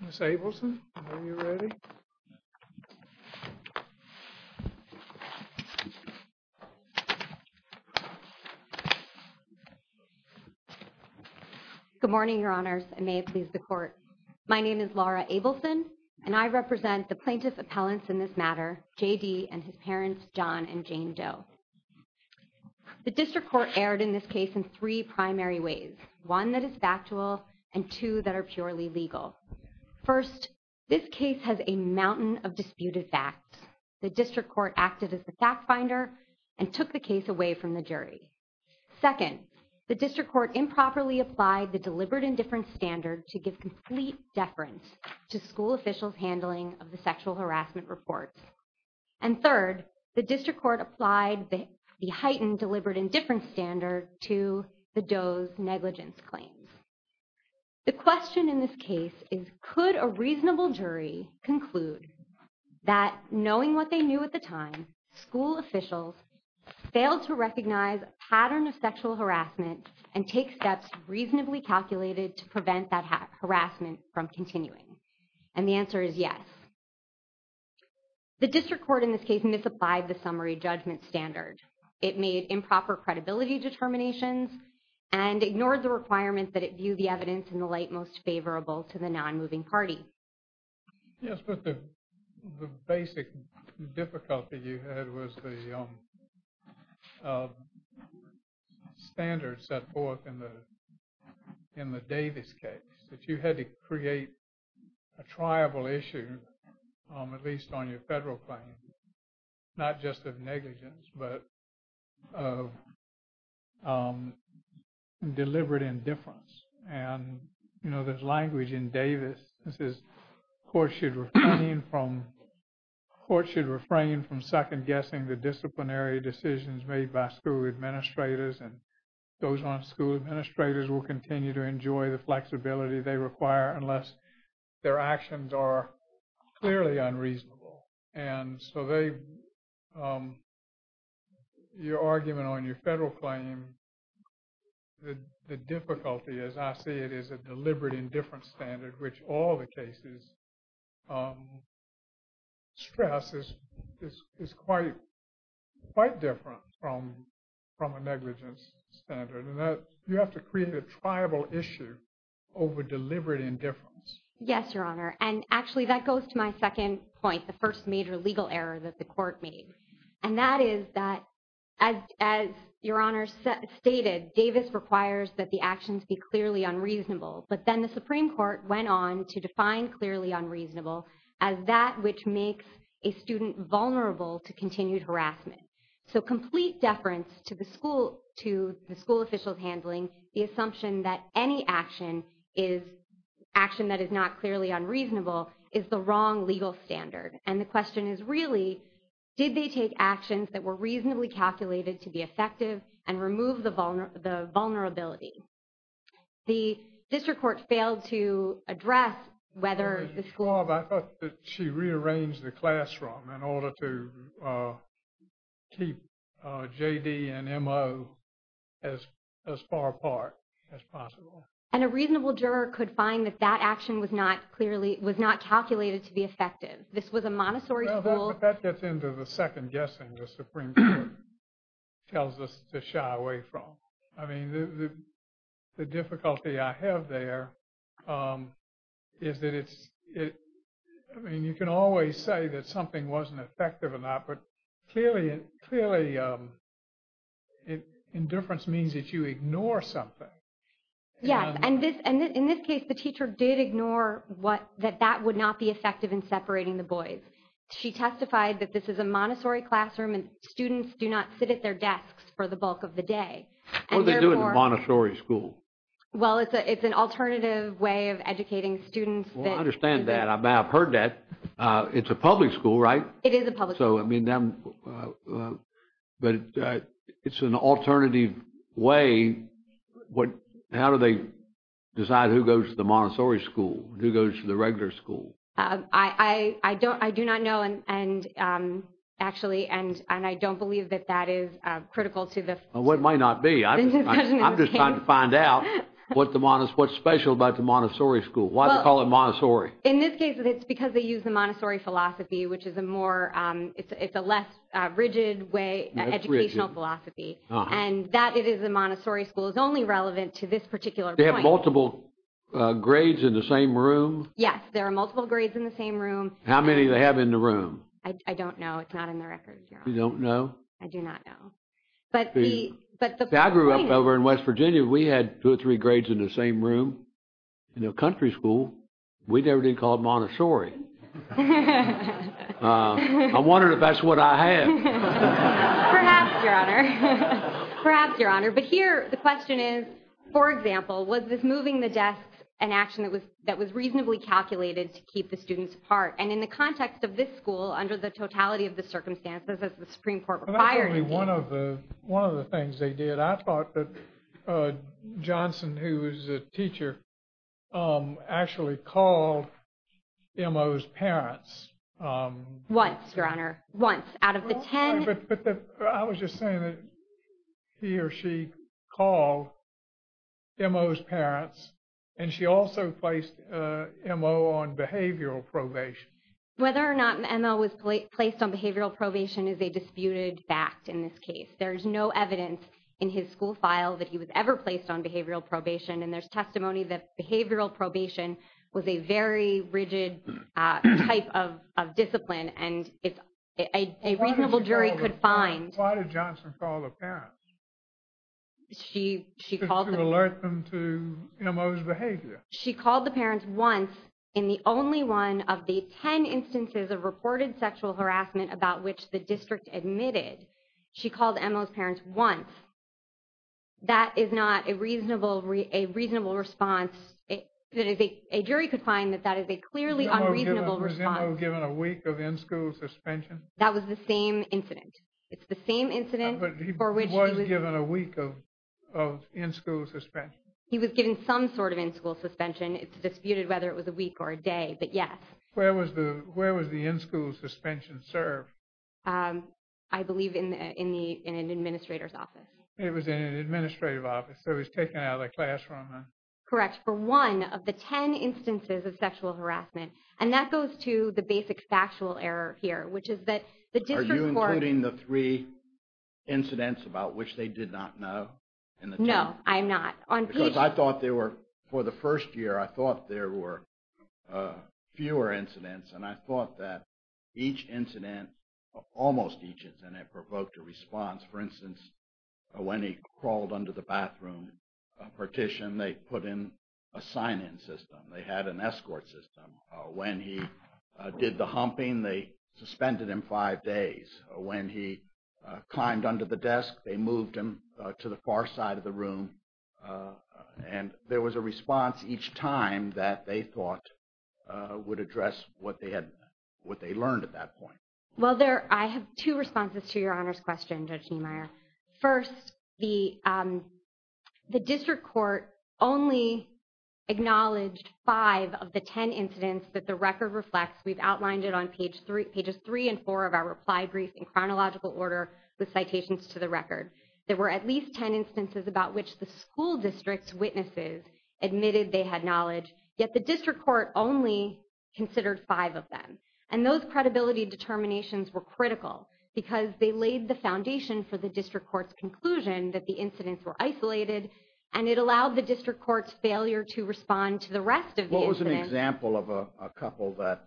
Ms. Abelson, are you ready? Good morning, Your Honors, and may it please the Court. My name is Laura Abelson, and I represent the plaintiff appellants in this matter, J.D. and his parents, John and Jane Doe. The District Court erred in this case in three primary ways, one that is factual and two that are purely legal. First, this case has a mountain of disputed facts. The District Court acted as the fact finder and took the case away from the jury. Second, the District Court improperly applied the deliberate indifference standard to give complete deference to school officials' handling of the sexual harassment reports. And third, the District Court applied the heightened deliberate indifference standard to the Doe's negligence claims. The question in this case is, could a reasonable jury conclude that knowing what they knew at the time, school officials failed to recognize a pattern of sexual harassment and take steps reasonably calculated to prevent that harassment from continuing? And the answer is yes. The District Court in this case misapplied the summary judgment standard. It made improper credibility determinations and ignored the requirement that it view the evidence in the light most favorable to the non-moving party. Yes, but the basic difficulty you had was the standards set forth in the Davis case that you had to create a triable issue, at least on your federal claim, not just of negligence but of deliberate indifference. And, you know, there's language in Davis that says courts should refrain from second-guessing the disciplinary decisions made by school administrators and those on school administrators will continue to enjoy the flexibility they require unless their actions are clearly unreasonable. And so your argument on your federal claim, the difficulty as I see it is a deliberate indifference standard, which all the cases stress is quite different from a negligence standard. You have to create a triable issue over deliberate indifference. Yes, Your Honor. And actually that goes to my second point, the first major legal error that the court made. And that is that, as Your Honor stated, Davis requires that the actions be clearly unreasonable. But then the Supreme Court went on to define clearly unreasonable as that which makes a student vulnerable to continued harassment. So complete deference to the school officials' handling, the assumption that any action is action that is not clearly unreasonable is the wrong legal standard. And the question is really, did they take actions that were reasonably calculated to be effective and remove the vulnerability? The district court failed to address whether the school... Your Honor, I thought that she rearranged the classroom in order to keep J.D. and M.O. as far apart as possible. And a reasonable juror could find that that action was not clearly, was not calculated to be effective. This was a Montessori school... Well, but that gets into the second guessing the Supreme Court tells us to shy away from. I mean, the difficulty I have there is that it's, I mean, you can always say that something wasn't effective or not, but clearly indifference means that you ignore something. Yes. And in this case, the teacher did ignore that that would not be effective in separating the boys. She testified that this is a Montessori classroom and students do not sit at their desks for the bulk of the day. And therefore... What do they do at the Montessori school? Well, it's an alternative way of educating students that... Well, I understand that. I've heard that. It's a public school, right? It is a public school. So, I mean, but it's an alternative way. How do they decide who goes to the Montessori school, who goes to the regular school? I do not know, and actually, and I don't believe that that is critical to the discussion. Well, it might not be. I'm just trying to find out what's special about the Montessori school. Why do they call it Montessori? Well, in this case, it's because they use the Montessori philosophy, which is a more, it's a less rigid way, educational philosophy. And that it is a Montessori school is only relevant to this particular point. They have multiple grades in the same room? Yes. There are multiple grades in the same room. How many do they have in the room? I don't know. It's not in the record, Your Honor. You don't know? I do not know. I grew up over in West Virginia. We had two or three grades in the same room in a country school. We never did call it Montessori. I'm wondering if that's what I have. Perhaps, Your Honor. Perhaps, Your Honor. But here, the question is, for example, was this moving the desks an action that was reasonably calculated to keep the students apart? And in the context of this school, under the totality of the circumstances that the Supreme Court required. Well, that's only one of the things they did. I thought that Johnson, who was a teacher, actually called M.O.'s parents. Once, Your Honor. Once. Out of the 10. But I was just saying that he or she called M.O.'s parents. And she also placed M.O. on behavioral probation. Whether or not M.O. was placed on behavioral probation is a disputed fact in this case. There is no evidence in his school file that he was ever placed on behavioral probation. And there's testimony that behavioral probation was a very rigid type of discipline. And a reasonable jury could find. Why did Johnson call the parents? She called them. To alert them to M.O.'s behavior. She called the parents once in the only one of the 10 instances of reported sexual harassment about which the district admitted. She called M.O.'s parents once. That is not a reasonable response. A jury could find that that is a clearly unreasonable response. Was M.O. given a week of in-school suspension? That was the same incident. It's the same incident. He was given a week of in-school suspension. He was given some sort of in-school suspension. It's disputed whether it was a week or a day. But yes. Where was the in-school suspension served? I believe in an administrator's office. It was in an administrative office. So he was taken out of the classroom. Correct. For one of the 10 instances of sexual harassment. And that goes to the basic factual error here. Are you including the three incidents about which they did not know? No, I'm not. Because I thought there were, for the first year, I thought there were fewer incidents. And I thought that each incident, almost each incident, provoked a response. For instance, when he crawled under the bathroom partition, they put in a sign-in system. They had an escort system. When he did the humping, they suspended him five days. When he climbed under the desk, they moved him to the far side of the room. And there was a response each time that they thought would address what they learned at that point. Well, I have two responses to Your Honor's question, Judge Niemeyer. First, the district court only acknowledged five of the 10 incidents that the record reflects. We've outlined it on Pages 3 and 4 of our reply brief in chronological order with citations to the record. There were at least 10 instances about which the school district's witnesses admitted they had knowledge. Yet the district court only considered five of them. And those credibility determinations were critical because they laid the foundation for the district court's conclusion that the incidents were isolated, and it allowed the district court's failure to respond to the rest of the incidents. What was an example of a couple that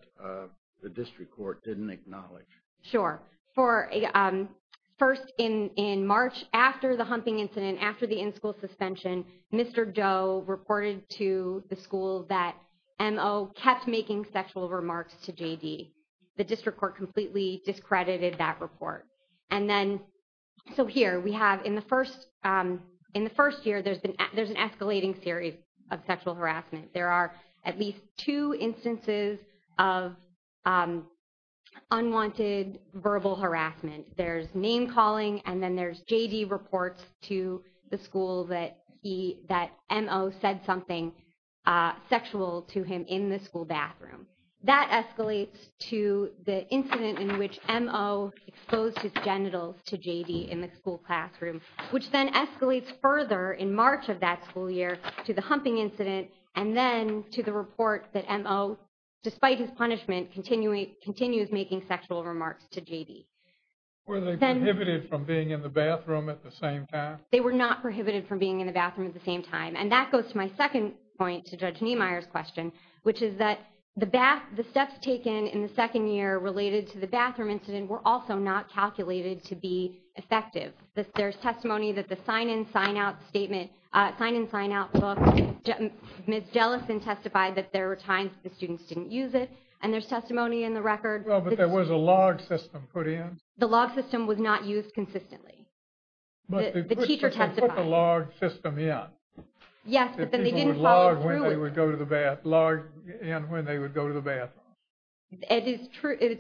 the district court didn't acknowledge? Sure. First, in March, after the humping incident, after the in-school suspension, Mr. Doe reported to the school that MO kept making sexual remarks to JD. The district court completely discredited that report. And then, so here, we have in the first year, there's an escalating series of sexual harassment. There are at least two instances of unwanted verbal harassment. There's name-calling, and then there's JD reports to the school that MO said something sexual to him in the school bathroom. That escalates to the incident in which MO exposed his genitals to JD in the school classroom, which then escalates further in March of that school year to the humping incident, and then to the report that MO, despite his punishment, continues making sexual remarks to JD. Were they prohibited from being in the bathroom at the same time? They were not prohibited from being in the bathroom at the same time. And that goes to my second point to Judge Niemeyer's question, which is that the steps taken in the second year related to the bathroom incident were also not calculated to be effective. There's testimony that the sign-in, sign-out statement, sign-in, sign-out book, Ms. Jellison testified that there were times the students didn't use it. And there's testimony in the record. Well, but there was a log system put in. The log system was not used consistently. The teacher testified. But they put the log system in. Yes, but then they didn't follow through with it. People would log in when they would go to the bathroom. It's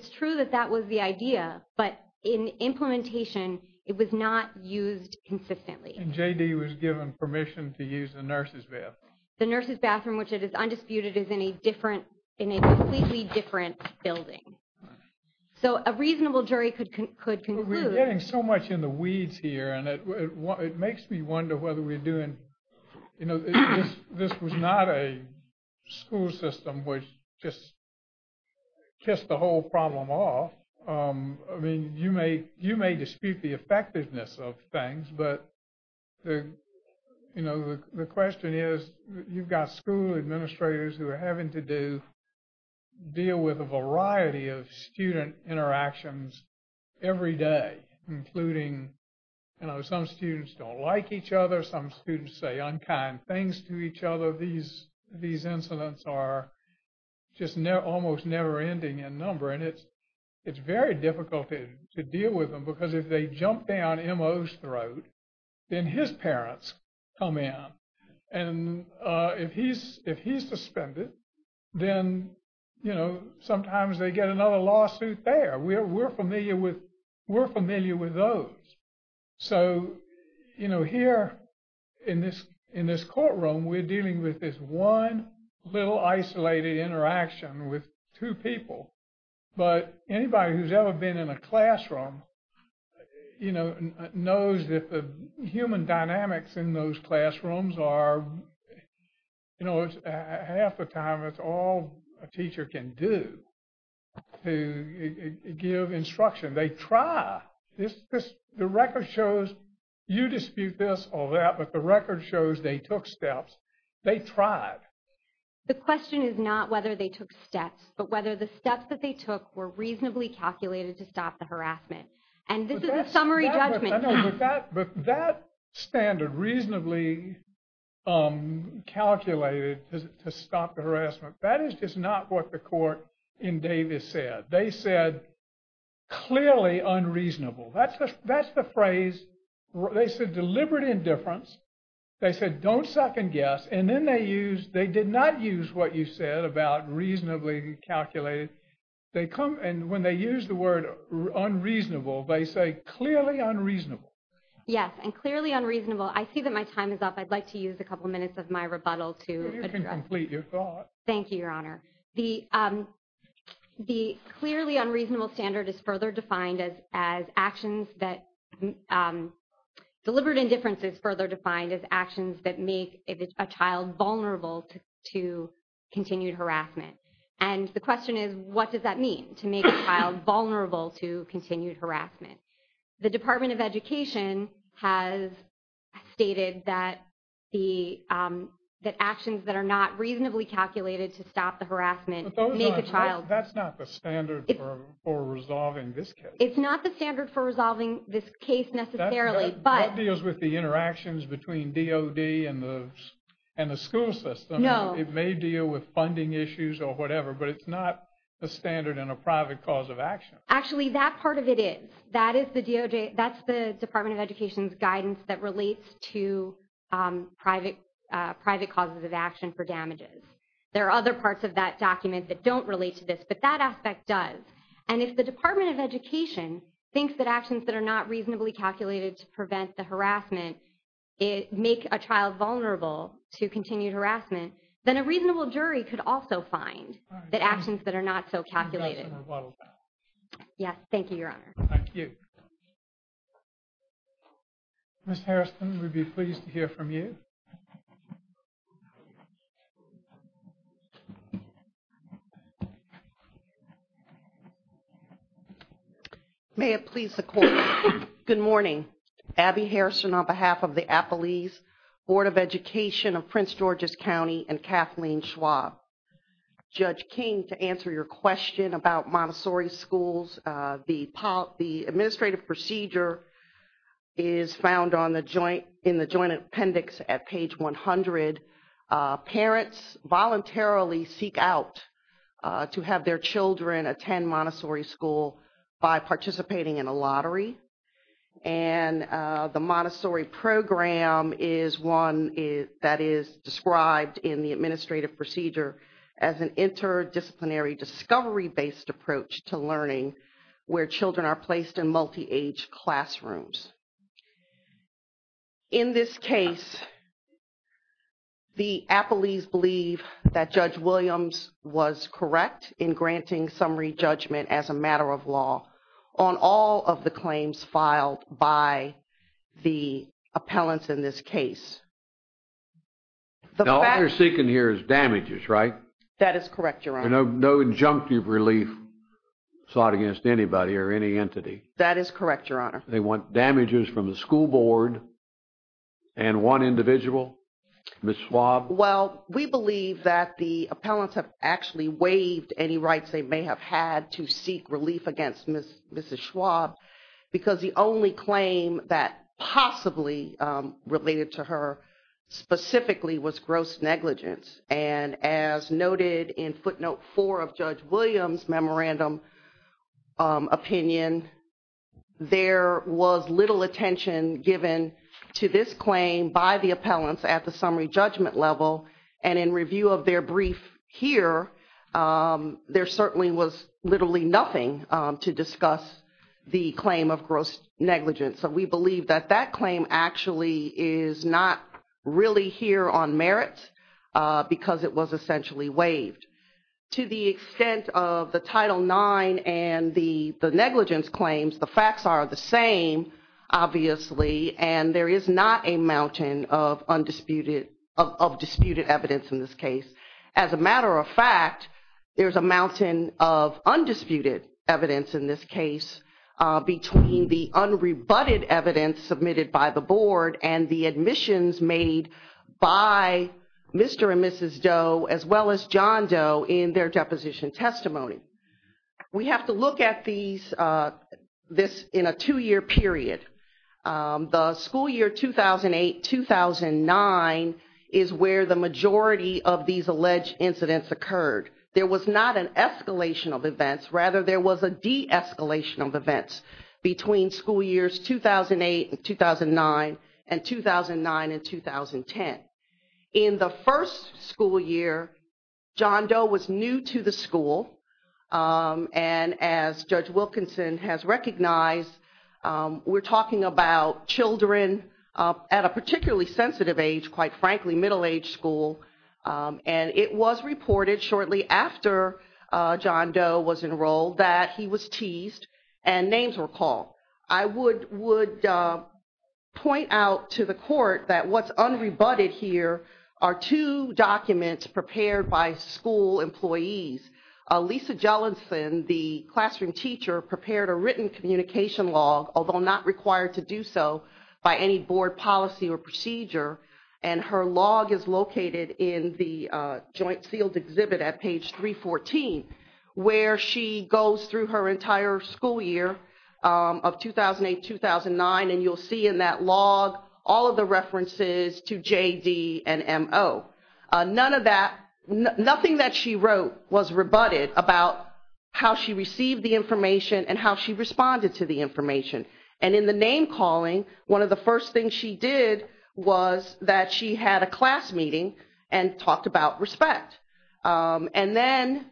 true that that was the idea, but in implementation, it was not used consistently. And JD was given permission to use the nurse's bathroom. The nurse's bathroom, which is undisputed, is in a completely different building. So a reasonable jury could conclude. We're getting so much in the weeds here, and it makes me wonder whether we're doing – You know, this was not a school system which just kissed the whole problem off. I mean, you may dispute the effectiveness of things, but, you know, the question is you've got school administrators who are having to deal with a variety of student interactions every day, including, you know, some students don't like each other. Some students say unkind things to each other. These incidents are just almost never-ending in number, and it's very difficult to deal with them because if they jump down MO's throat, then his parents come in. And if he's suspended, then, you know, sometimes they get another lawsuit there. We're familiar with those. So, you know, here in this courtroom, we're dealing with this one little isolated interaction with two people. But anybody who's ever been in a classroom, you know, knows that the human dynamics in those classrooms are, you know, almost half the time it's all a teacher can do to give instruction. They try. The record shows you dispute this or that, but the record shows they took steps. They tried. The question is not whether they took steps, but whether the steps that they took were reasonably calculated to stop the harassment. And this is a summary judgment. I know, but that standard, reasonably calculated to stop the harassment, that is just not what the court in Davis said. They said clearly unreasonable. That's the phrase. They said deliberate indifference. They said don't second guess. And then they used, they did not use what you said about reasonably calculated. And when they use the word unreasonable, they say clearly unreasonable. Yes, and clearly unreasonable. I see that my time is up. I'd like to use a couple minutes of my rebuttal to address. You can complete your thought. Thank you, Your Honor. The clearly unreasonable standard is further defined as actions that, deliberate indifference is further defined as actions that make a child vulnerable to continued harassment. And the question is, what does that mean, to make a child vulnerable to continued harassment? The Department of Education has stated that actions that are not reasonably calculated to stop the harassment make a child. That's not the standard for resolving this case. It's not the standard for resolving this case necessarily, but. That deals with the interactions between DOD and the school system. No. It may deal with funding issues or whatever, but it's not the standard in a private cause of action. Actually, that part of it is. That is the DOJ, that's the Department of Education's guidance that relates to private causes of action for damages. There are other parts of that document that don't relate to this, but that aspect does. And if the Department of Education thinks that actions that are not reasonably calculated to prevent the harassment make a child vulnerable to continued harassment, then a reasonable jury could also find that actions that are not so calculated. Yes. Thank you, Your Honor. Thank you. Ms. Harrison, we'd be pleased to hear from you. May it please the Court. Good morning. Abby Harrison on behalf of the Appalese Board of Education of Prince George's County and Kathleen Schwab. Judge King, to answer your question about Montessori schools, the administrative procedure is found in the joint appendix at page 100. Parents voluntarily seek out to have their children attend Montessori school by participating in a lottery. And the Montessori program is one that is described in the administrative procedure as an interdisciplinary discovery-based approach to learning where children are placed in multi-age classrooms. In this case, the Appalese believe that Judge Williams was correct in granting summary judgment as a matter of law on all of the claims filed by the appellants in this case. All they're seeking here is damages, right? That is correct, Your Honor. No injunctive relief sought against anybody or any entity. That is correct, Your Honor. They want damages from the school board and one individual, Ms. Schwab. Well, we believe that the appellants have actually waived any rights they may have had to seek relief against Mrs. Schwab because the only claim that possibly related to her specifically was gross negligence. And as noted in footnote four of Judge Williams' memorandum opinion, there was little attention given to this claim by the appellants at the summary judgment level. And in review of their brief here, there certainly was literally nothing to discuss the claim of gross negligence. So we believe that that claim actually is not really here on merit because it was essentially waived. To the extent of the Title IX and the negligence claims, the facts are the same, obviously. And there is not a mountain of undisputed evidence in this case. As a matter of fact, there is a mountain of undisputed evidence in this case between the unrebutted evidence submitted by the board and the admissions made by Mr. and Mrs. Doe as well as John Doe in their deposition testimony. We have to look at this in a two-year period. The school year 2008-2009 is where the majority of these alleged incidents occurred. There was not an escalation of events. Rather, there was a de-escalation of events between school years 2008 and 2009 and 2009 and 2010. In the first school year, John Doe was new to the school. And as Judge Wilkinson has recognized, we're talking about children at a particularly sensitive age, quite frankly, middle-aged school. And it was reported shortly after John Doe was enrolled that he was teased and names were called. I would point out to the court that what's unrebutted here are two documents prepared by school employees. Lisa Jellinson, the classroom teacher, prepared a written communication log, although not required to do so by any board policy or procedure. And her log is located in the joint sealed exhibit at page 314 where she goes through her entire school year of 2008-2009. And you'll see in that log all of the references to JD and MO. None of that, nothing that she wrote was rebutted about how she received the information and how she responded to the information. And in the name calling, one of the first things she did was that she had a class meeting and talked about respect. And then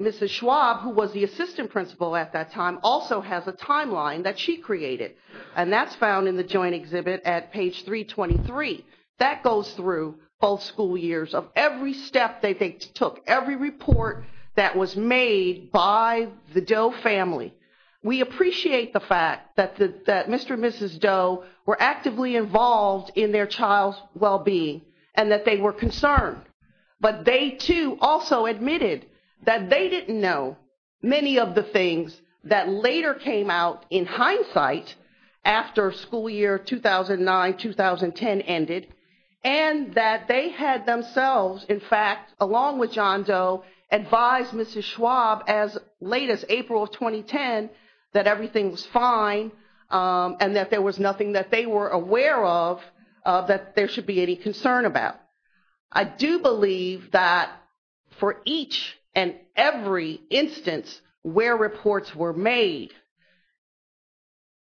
Mrs. Schwab, who was the assistant principal at that time, also has a timeline that she created. And that's found in the joint exhibit at page 323. That goes through both school years of every step that they took, every report that was made by the Doe family. We appreciate the fact that Mr. and Mrs. Doe were actively involved in their child's well-being and that they were concerned. But they, too, also admitted that they didn't know many of the things that later came out in hindsight after school year 2009-2010 ended. And that they had themselves, in fact, along with John Doe, advised Mrs. Schwab as late as April of 2010 that everything was fine and that there was nothing that they were aware of that there should be any concern about. I do believe that for each and every instance where reports were made,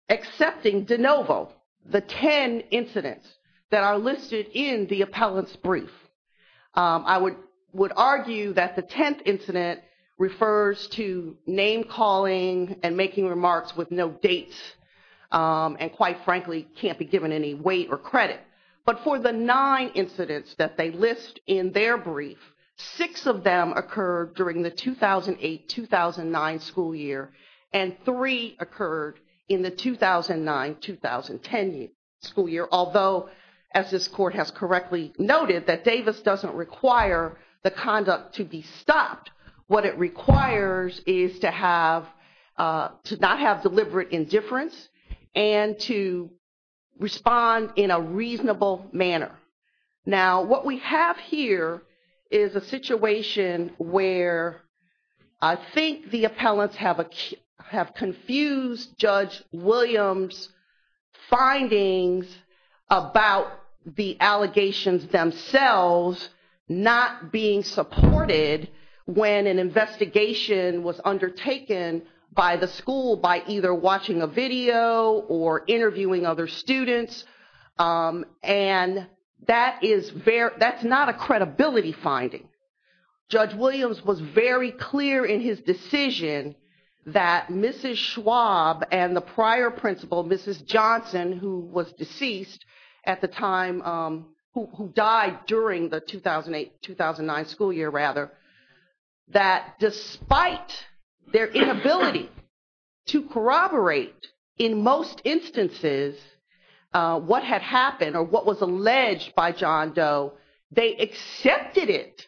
excepting de novo, the 10 incidents that are listed in the appellant's brief, I would argue that the 10th incident refers to name calling and making remarks with no dates, and quite frankly, can't be given any weight or credit. But for the 9 incidents that they list in their brief, 6 of them occurred during the 2008-2009 school year, and 3 occurred in the 2009-2010 school year. Although, as this court has correctly noted, that Davis doesn't require the conduct to be stopped. What it requires is to not have deliberate indifference and to respond in a reasonable manner. Now, what we have here is a situation where I think the appellants have confused Judge Williams' findings about the allegations themselves not being supported when an investigation was undertaken by the school by either watching a video or interviewing other students, and that's not a credibility finding. Judge Williams was very clear in his decision that Mrs. Schwab and the prior principal, Mrs. Johnson, who was deceased at the time, who died during the 2008-2009 school year, rather, that despite their inability to corroborate in most instances what had happened or what was alleged by John Doe, they accepted it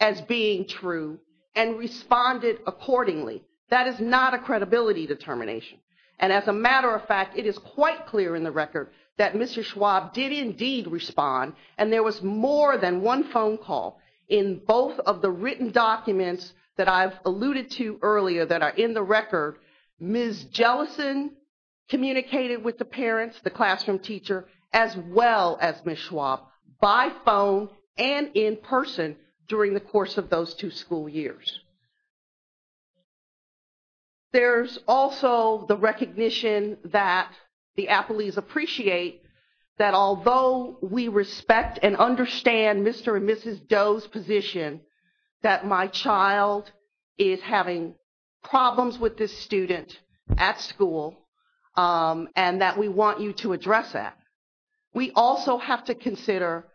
as being true and responded accordingly. That is not a credibility determination. And as a matter of fact, it is quite clear in the record that Mr. Schwab did indeed respond, and there was more than one phone call in both of the written documents that I've alluded to earlier that are in the record. Ms. Jellison communicated with the parents, the classroom teacher, as well as Ms. Schwab by phone and in person during the course of those two school years. There's also the recognition that the appellees appreciate that although we respect and understand Mr. and Mrs. Doe's position that my child is having problems with this student at school and that we want you to address that, we also have to consider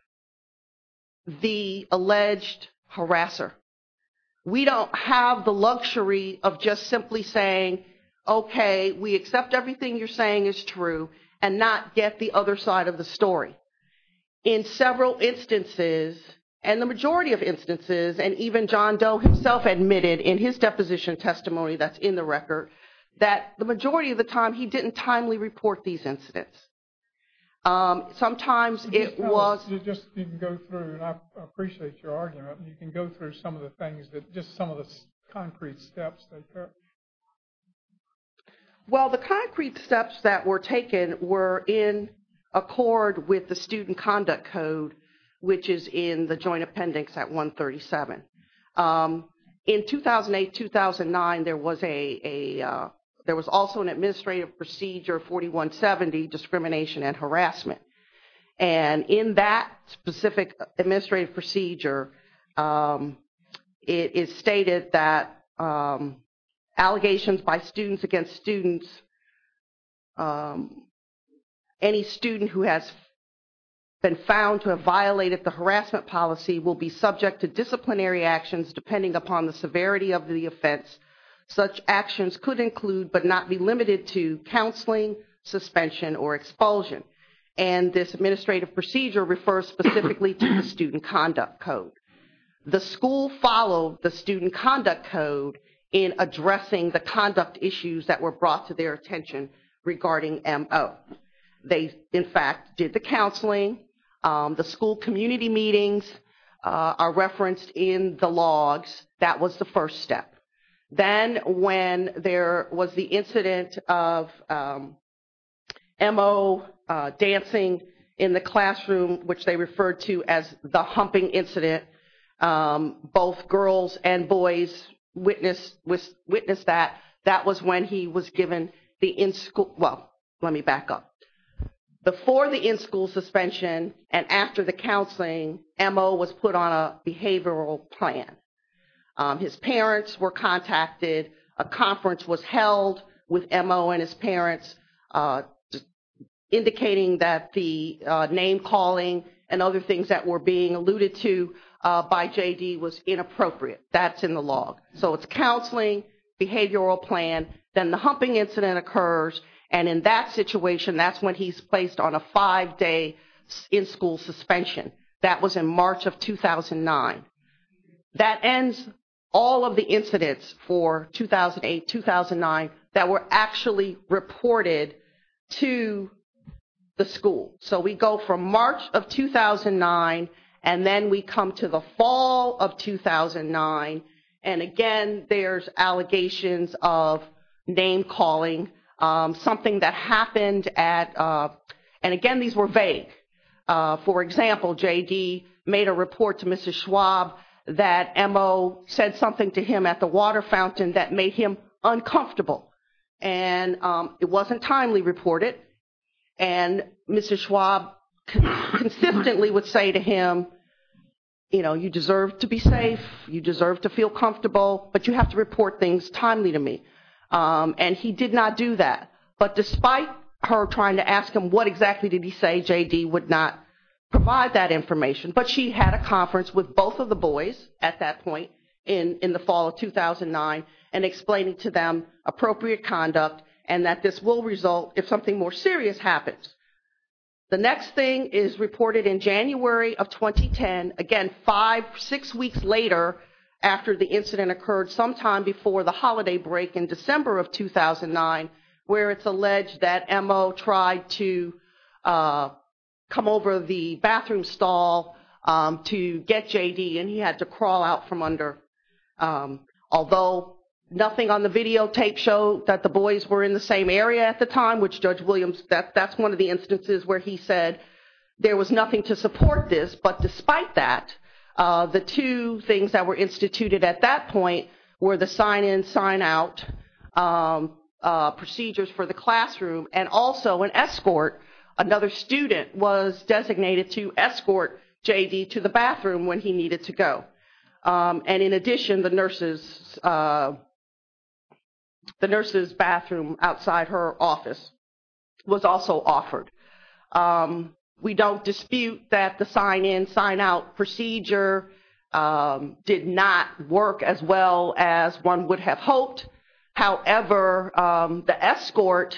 the alleged harasser. We don't have the luxury of just simply saying, okay, we accept everything you're saying is true and not get the other side of the story. In several instances, and the majority of instances, and even John Doe himself admitted in his deposition testimony that's in the record, that the majority of the time he didn't timely report these incidents. Sometimes it was... You just didn't go through, and I appreciate your argument, but you can go through some of the things that just some of the concrete steps that... Well, the concrete steps that were taken were in accord with the Student Conduct Code, which is in the Joint Appendix at 137. In 2008-2009, there was also an administrative procedure 4170, discrimination and harassment. And in that specific administrative procedure, it is stated that allegations by students against students, any student who has been found to have violated the harassment policy will be subject to disciplinary actions depending upon the severity of the offense. Such actions could include but not be limited to counseling, suspension, or expulsion. And this administrative procedure refers specifically to the Student Conduct Code. The school followed the Student Conduct Code in addressing the conduct issues that were brought to their attention regarding MO. They, in fact, did the counseling. That was the first step. Then when there was the incident of MO dancing in the classroom, which they referred to as the humping incident, both girls and boys witnessed that. That was when he was given the in-school... Well, let me back up. Before the in-school suspension and after the counseling, MO was put on a behavioral plan. His parents were contacted. A conference was held with MO and his parents, indicating that the name-calling and other things that were being alluded to by JD was inappropriate. That's in the law. So it's counseling, behavioral plan, then the humping incident occurs. And in that situation, that's when he's placed on a five-day in-school suspension. That was in March of 2009. That ends all of the incidents for 2008-2009 that were actually reported to the school. So we go from March of 2009, and then we come to the fall of 2009. And again, there's allegations of name-calling, something that happened at... And again, these were vague. For example, JD made a report to Mrs. Schwab that MO said something to him at the water fountain that made him uncomfortable. And it wasn't timely reported. And Mrs. Schwab consistently would say to him, you know, you deserve to be safe, you deserve to feel comfortable, but you have to report things timely to me. And he did not do that. But despite her trying to ask him what exactly did he say, JD would not provide that information. But she had a conference with both of the boys at that point in the fall of 2009 and explaining to them appropriate conduct and that this will result if something more serious happens. The next thing is reported in January of 2010. Again, five, six weeks later, after the incident occurred sometime before the holiday break in December of 2009, where it's alleged that MO tried to come over the bathroom stall to get JD, and he had to crawl out from under... Although nothing on the videotape showed that the boys were in the same area at the time, which Judge Williams, that's one of the instances where he said there was nothing to support this. But despite that, the two things that were instituted at that point were the sign-in, sign-out procedures for the classroom and also an escort. Another student was designated to escort JD to the bathroom when he needed to go. And in addition, the nurse's bathroom outside her office was also offered. We don't dispute that the sign-in, sign-out procedure did not work as well as one would have hoped. However, the escort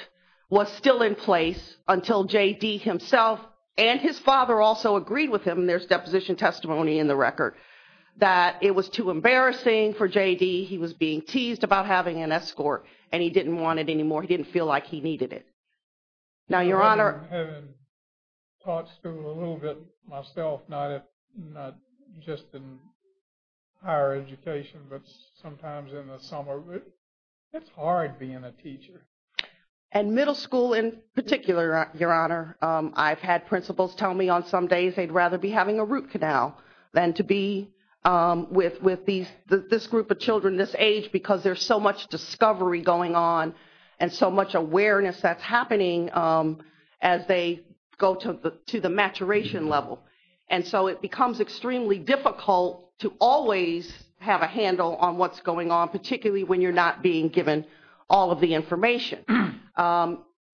was still in place until JD himself and his father also agreed with him, and there's deposition testimony in the record, that it was too embarrassing for JD. He was being teased about having an escort, and he didn't want it anymore. He didn't feel like he needed it. Having taught school a little bit myself, not just in higher education, but sometimes in the summer, it's hard being a teacher. And middle school in particular, Your Honor. I've had principals tell me on some days they'd rather be having a root canal than to be with this group of children this age because there's so much discovery going on and so much awareness that's happening as they go to the maturation level. And so it becomes extremely difficult to always have a handle on what's going on, particularly when you're not being given all of the information.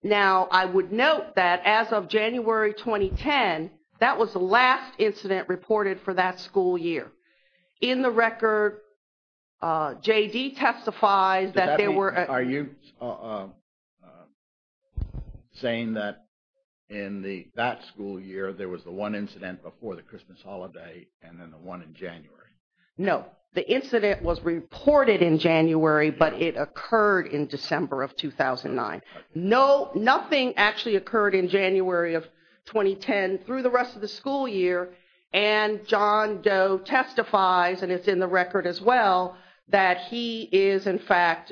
Now, I would note that as of January 2010, that was the last incident reported for that school year. In the record, JD testifies that they were... Are you saying that in that school year, there was the one incident before the Christmas holiday and then the one in January? No. The incident was reported in January, but it occurred in December of 2009. Nothing actually occurred in January of 2010 through the rest of the school year, and John Doe testifies, and it's in the record as well, that he is in fact...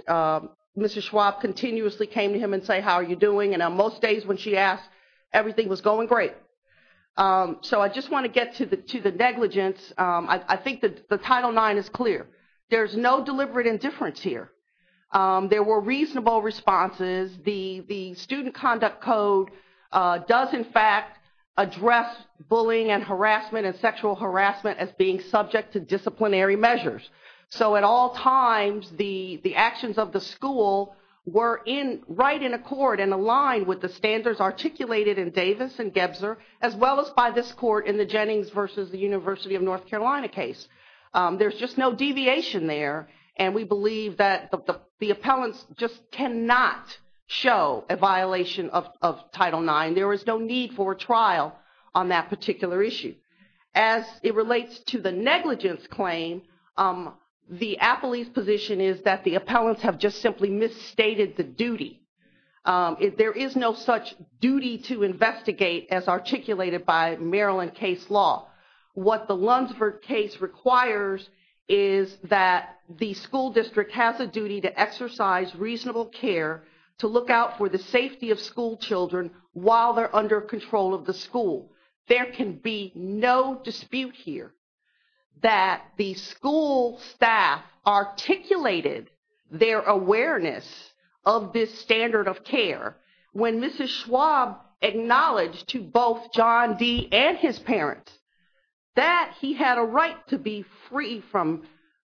Mr. Schwab continuously came to him and said, how are you doing? And on most days when she asked, everything was going great. So I just want to get to the negligence. I think the Title IX is clear. There's no deliberate indifference here. There were reasonable responses. The Student Conduct Code does, in fact, address bullying and harassment and sexual harassment as being subject to disciplinary measures. So at all times, the actions of the school were right in accord and aligned with the standards articulated in Davis and Gebser, as well as by this court in the Jennings versus the University of North Carolina case. There's just no deviation there, and we believe that the appellants just cannot show a violation of Title IX. There is no need for a trial on that particular issue. As it relates to the negligence claim, the appellee's position is that the appellants have just simply misstated the duty. There is no such duty to investigate as articulated by Maryland case law. What the Lunsford case requires is that the school district has a duty to exercise reasonable care to look out for the safety of schoolchildren while they're under control of the school. There can be no dispute here that the school staff articulated their awareness of this standard of care. When Mrs. Schwab acknowledged to both John D. and his parents that he had a right to be free from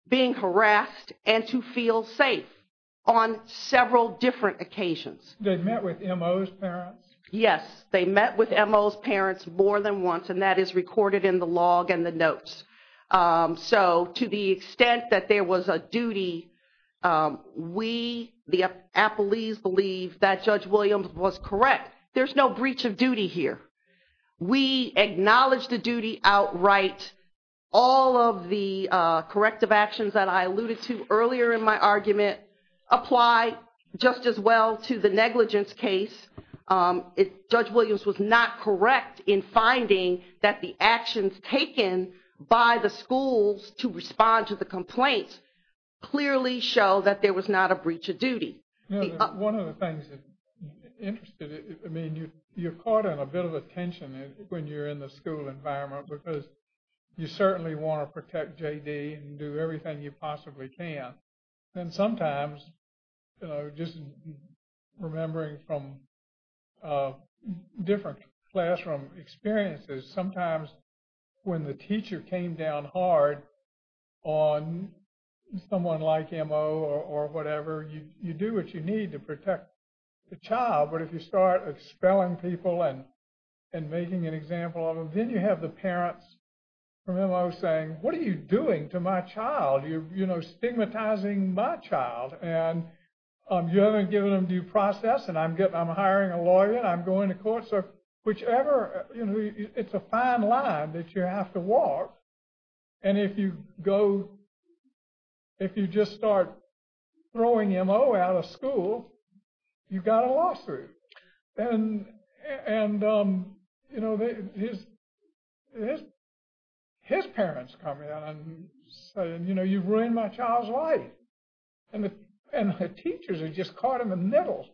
being harassed and to feel safe on several different occasions. They met with MO's parents? Yes, they met with MO's parents more than once, and that is recorded in the log and the notes. To the extent that there was a duty, we, the appellees, believe that Judge Williams was correct. There's no breach of duty here. We acknowledge the duty outright. All of the corrective actions that I alluded to earlier in my argument apply just as well to the negligence case. Judge Williams was not correct in finding that the actions taken by the schools to respond to the complaint clearly show that there was not a breach of duty. One of the things that interested me, you caught a bit of attention when you're in the school environment because you certainly want to protect J.D. and do everything you possibly can. And sometimes, just remembering from different classroom experiences, sometimes when the teacher came down hard on someone like MO or whatever, you do what you need to protect the child. But if you start expelling people and making an example of them, then you have the parents from MO saying, what are you doing to my child? You're stigmatizing my child. And you haven't given them due process and I'm hiring a lawyer and I'm going to court. So whichever, it's a fine line that you have to walk. And if you go, if you just start throwing MO out of school, you've got a lawsuit. And, you know, his parents come in and say, you know, you've ruined my child's life. And the teachers have just caught him in the middle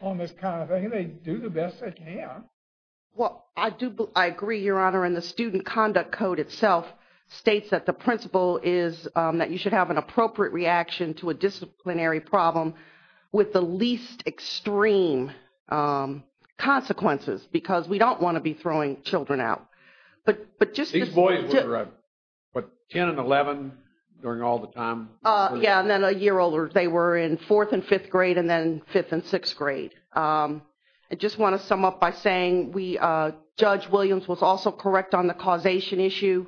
on this kind of thing. They do the best they can. Well, I do, I agree, Your Honor. And the Student Conduct Code itself states that the principle is that you should have an appropriate reaction to a disciplinary problem with the least extreme consequences, because we don't want to be throwing children out. These boys were 10 and 11 during all the time? Yeah, and then a year older. They were in fourth and fifth grade and then fifth and sixth grade. I just want to sum up by saying Judge Williams was also correct on the causation issue.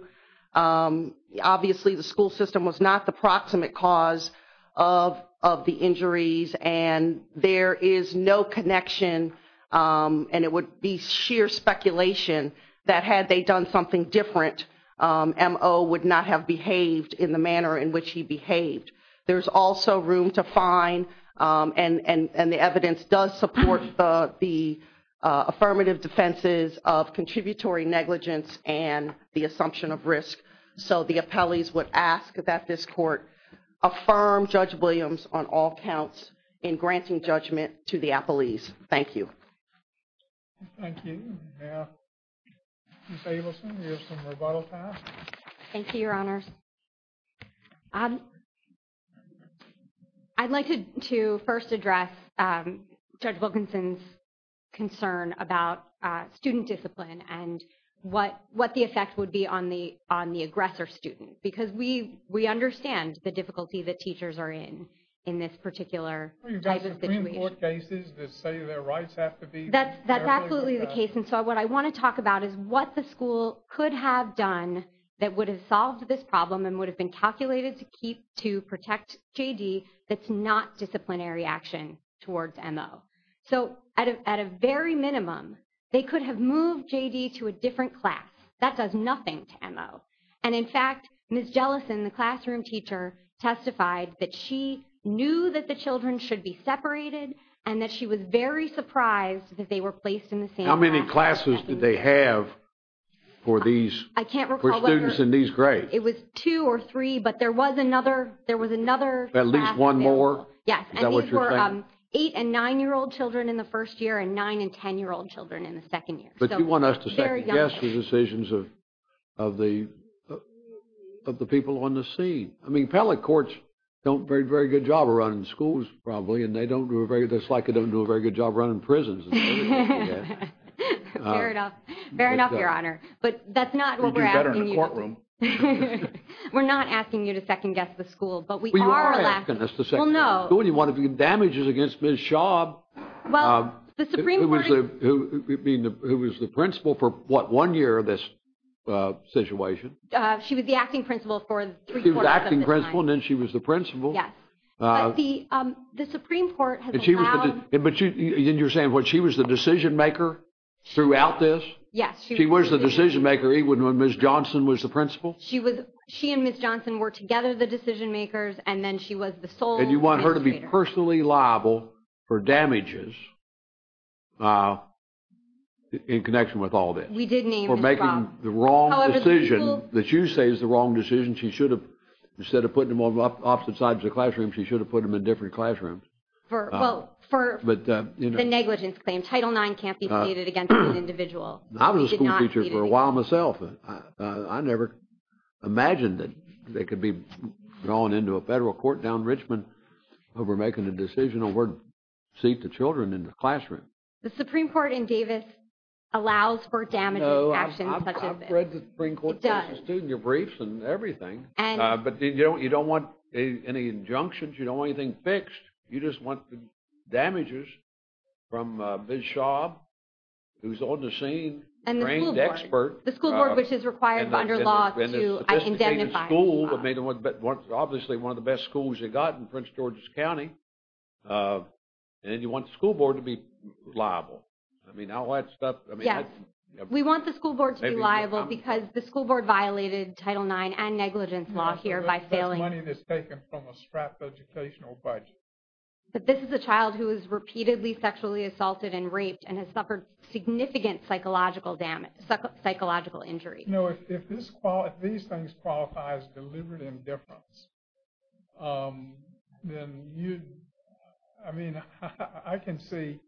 Obviously, the school system was not the proximate cause of the injuries. And there is no connection, and it would be sheer speculation, that had they done something different, MO would not have behaved in the manner in which he behaved. There's also room to fine, and the evidence does support the affirmative defenses of contributory negligence and the assumption of risk. So the appellees would ask that this Court affirm Judge Williams on all counts in granting judgment to the appellees. Thank you. Thank you. Ms. Abelson, you have some rebuttal time. Thank you, Your Honors. I'd like to first address Judge Wilkinson's concern about student discipline and what the effect would be on the aggressor student, because we understand the difficulty that teachers are in, in this particular type of situation. Are you talking about Supreme Court cases that say their rights have to be… That's absolutely the case. And so what I want to talk about is what the school could have done that would have solved this problem and would have been calculated to protect J.D. that's not disciplinary action towards MO. So at a very minimum, they could have moved J.D. to a different class. That does nothing to MO. And, in fact, Ms. Jellison, the classroom teacher, testified that she knew that the children should be separated and that she was very surprised that they were placed in the same class. How many classes did they have for these students in these grades? I can't recall whether it was two or three, but there was another… At least one more? Yes. Is that what you're saying? And these were eight- and nine-year-old children in the first year and nine- and ten-year-old children in the second year. But you want us to second-guess the decisions of the people on the scene. I mean, appellate courts don't do a very good job of running schools, probably, and it's like they don't do a very good job running prisons. Fair enough. Fair enough, Your Honor. But that's not what we're asking you to do. We do better in the courtroom. We're not asking you to second-guess the school. But we are asking us to second-guess the school. Well, no. You want to do damages against Ms. Schaub, who was the principal for, what, one year of this situation? She was the acting principal for three quarters of the time. She was the acting principal and then she was the principal. Yes. But the Supreme Court has allowed- But you're saying what, she was the decision-maker throughout this? Yes. She was the decision-maker even when Ms. Johnson was the principal? She and Ms. Johnson were together the decision-makers and then she was the sole legislator. And you want her to be personally liable for damages in connection with all this? We did name Ms. Schaub. For making the wrong decision that you say is the wrong decision, she should have, instead of putting them on opposite sides of the classroom, she should have put them in different classrooms. Well, for the negligence claim, Title IX can't be pleaded against an individual. I was a school teacher for a while myself. I never imagined that they could be drawn into a federal court down in Richmond over making a decision on where to seat the children in the classroom. The Supreme Court in Davis allows for damages actions such as this. It does. It does. It's in your briefs and everything. But you don't want any injunctions. You don't want anything fixed. You just want the damages from Ms. Schaub, who's the on-the-scene trained expert. The school board, which is required under law to indemnify Ms. Schaub. Obviously, one of the best schools you've got in Prince George's County. And you want the school board to be liable. I mean, all that stuff. We want the school board to be liable because the school board violated Title IX and negligence law here by failing. That's money that's taken from a strapped educational budget. But this is a child who is repeatedly sexually assaulted and raped and has suffered significant psychological damage, psychological injury. No, if these things qualify as deliberate indifference, then you, I mean, I can see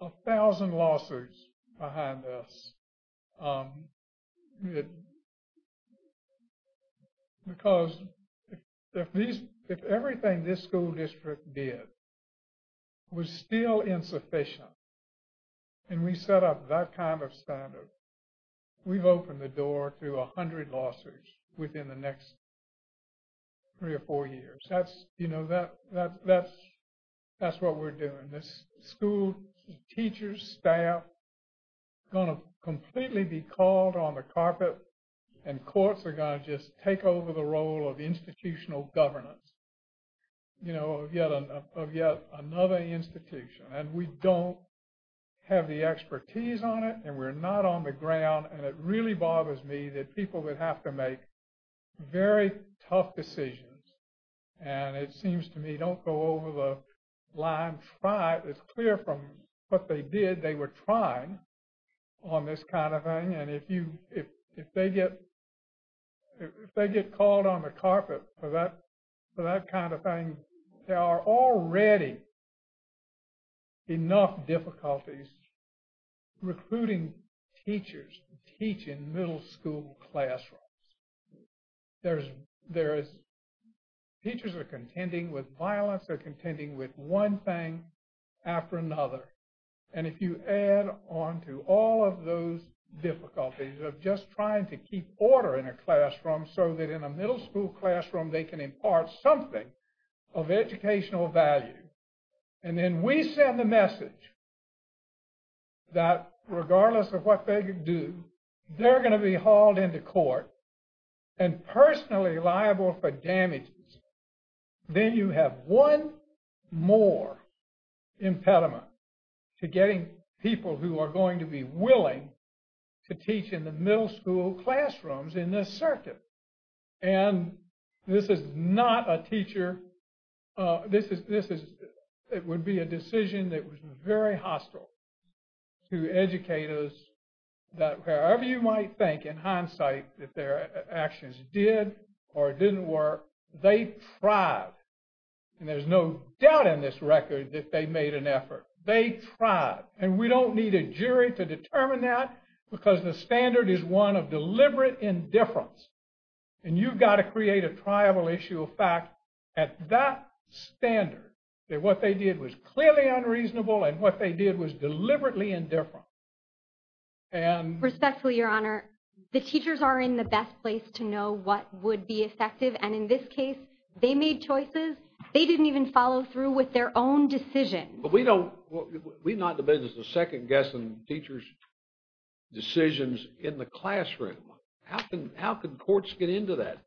a thousand lawsuits behind this. Because if everything this school district did was still insufficient and we set up that kind of standard, we've opened the door to a hundred lawsuits within the next three or four years. That's, you know, that's what we're doing. The school teachers, staff are going to completely be called on the carpet and courts are going to just take over the role of institutional governance, you know, of yet another institution. And we don't have the expertise on it and we're not on the ground. And it really bothers me that people would have to make very tough decisions. And it seems to me, don't go over the line. It's clear from what they did, they were trying on this kind of thing. And if they get called on the carpet for that kind of thing, there are already enough difficulties recruiting teachers to teach in middle school classrooms. There is, teachers are contending with violence, they're contending with one thing after another. And if you add on to all of those difficulties of just trying to keep order in a classroom so that in a middle school classroom they can impart something of educational value. And then we send the message that regardless of what they do, they're going to be hauled into court and personally liable for damages. Then you have one more impediment to getting people who are going to be willing to teach in the middle school classrooms in this circuit. And this is not a teacher, this is, it would be a decision that was very hostile to educators that however you might think in hindsight that their actions did or didn't work, they tried. And there's no doubt in this record that they made an effort. They tried. And we don't need a jury to determine that because the standard is one of deliberate indifference. And you've got to create a triable issue of fact at that standard, that what they did was clearly unreasonable and what they did was deliberately indifferent. Respectfully, Your Honor, the teachers are in the best place to know what would be effective. And in this case, they made choices, they didn't even follow through with their own decisions. But we don't, we're not in the business of second-guessing teachers' decisions in the classroom. How can courts get into that,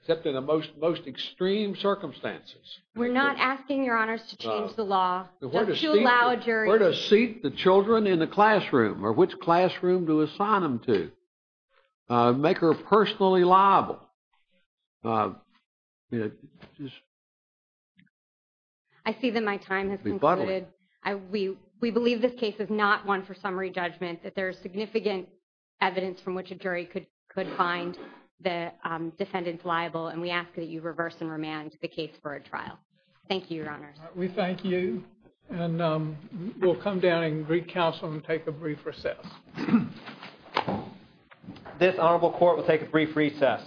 except in the most extreme circumstances? We're not asking, Your Honors, to change the law, to allow a jury. Where to seat the children in the classroom or which classroom to assign them to? Make her personally liable? I see that my time has concluded. We believe this case is not one for summary judgment, that there is significant evidence from which a jury could find the defendants liable. And we ask that you reverse and remand the case for a trial. Thank you, Your Honors. We thank you. And we'll come down and recounsel and take a brief recess. This honorable court will take a brief recess.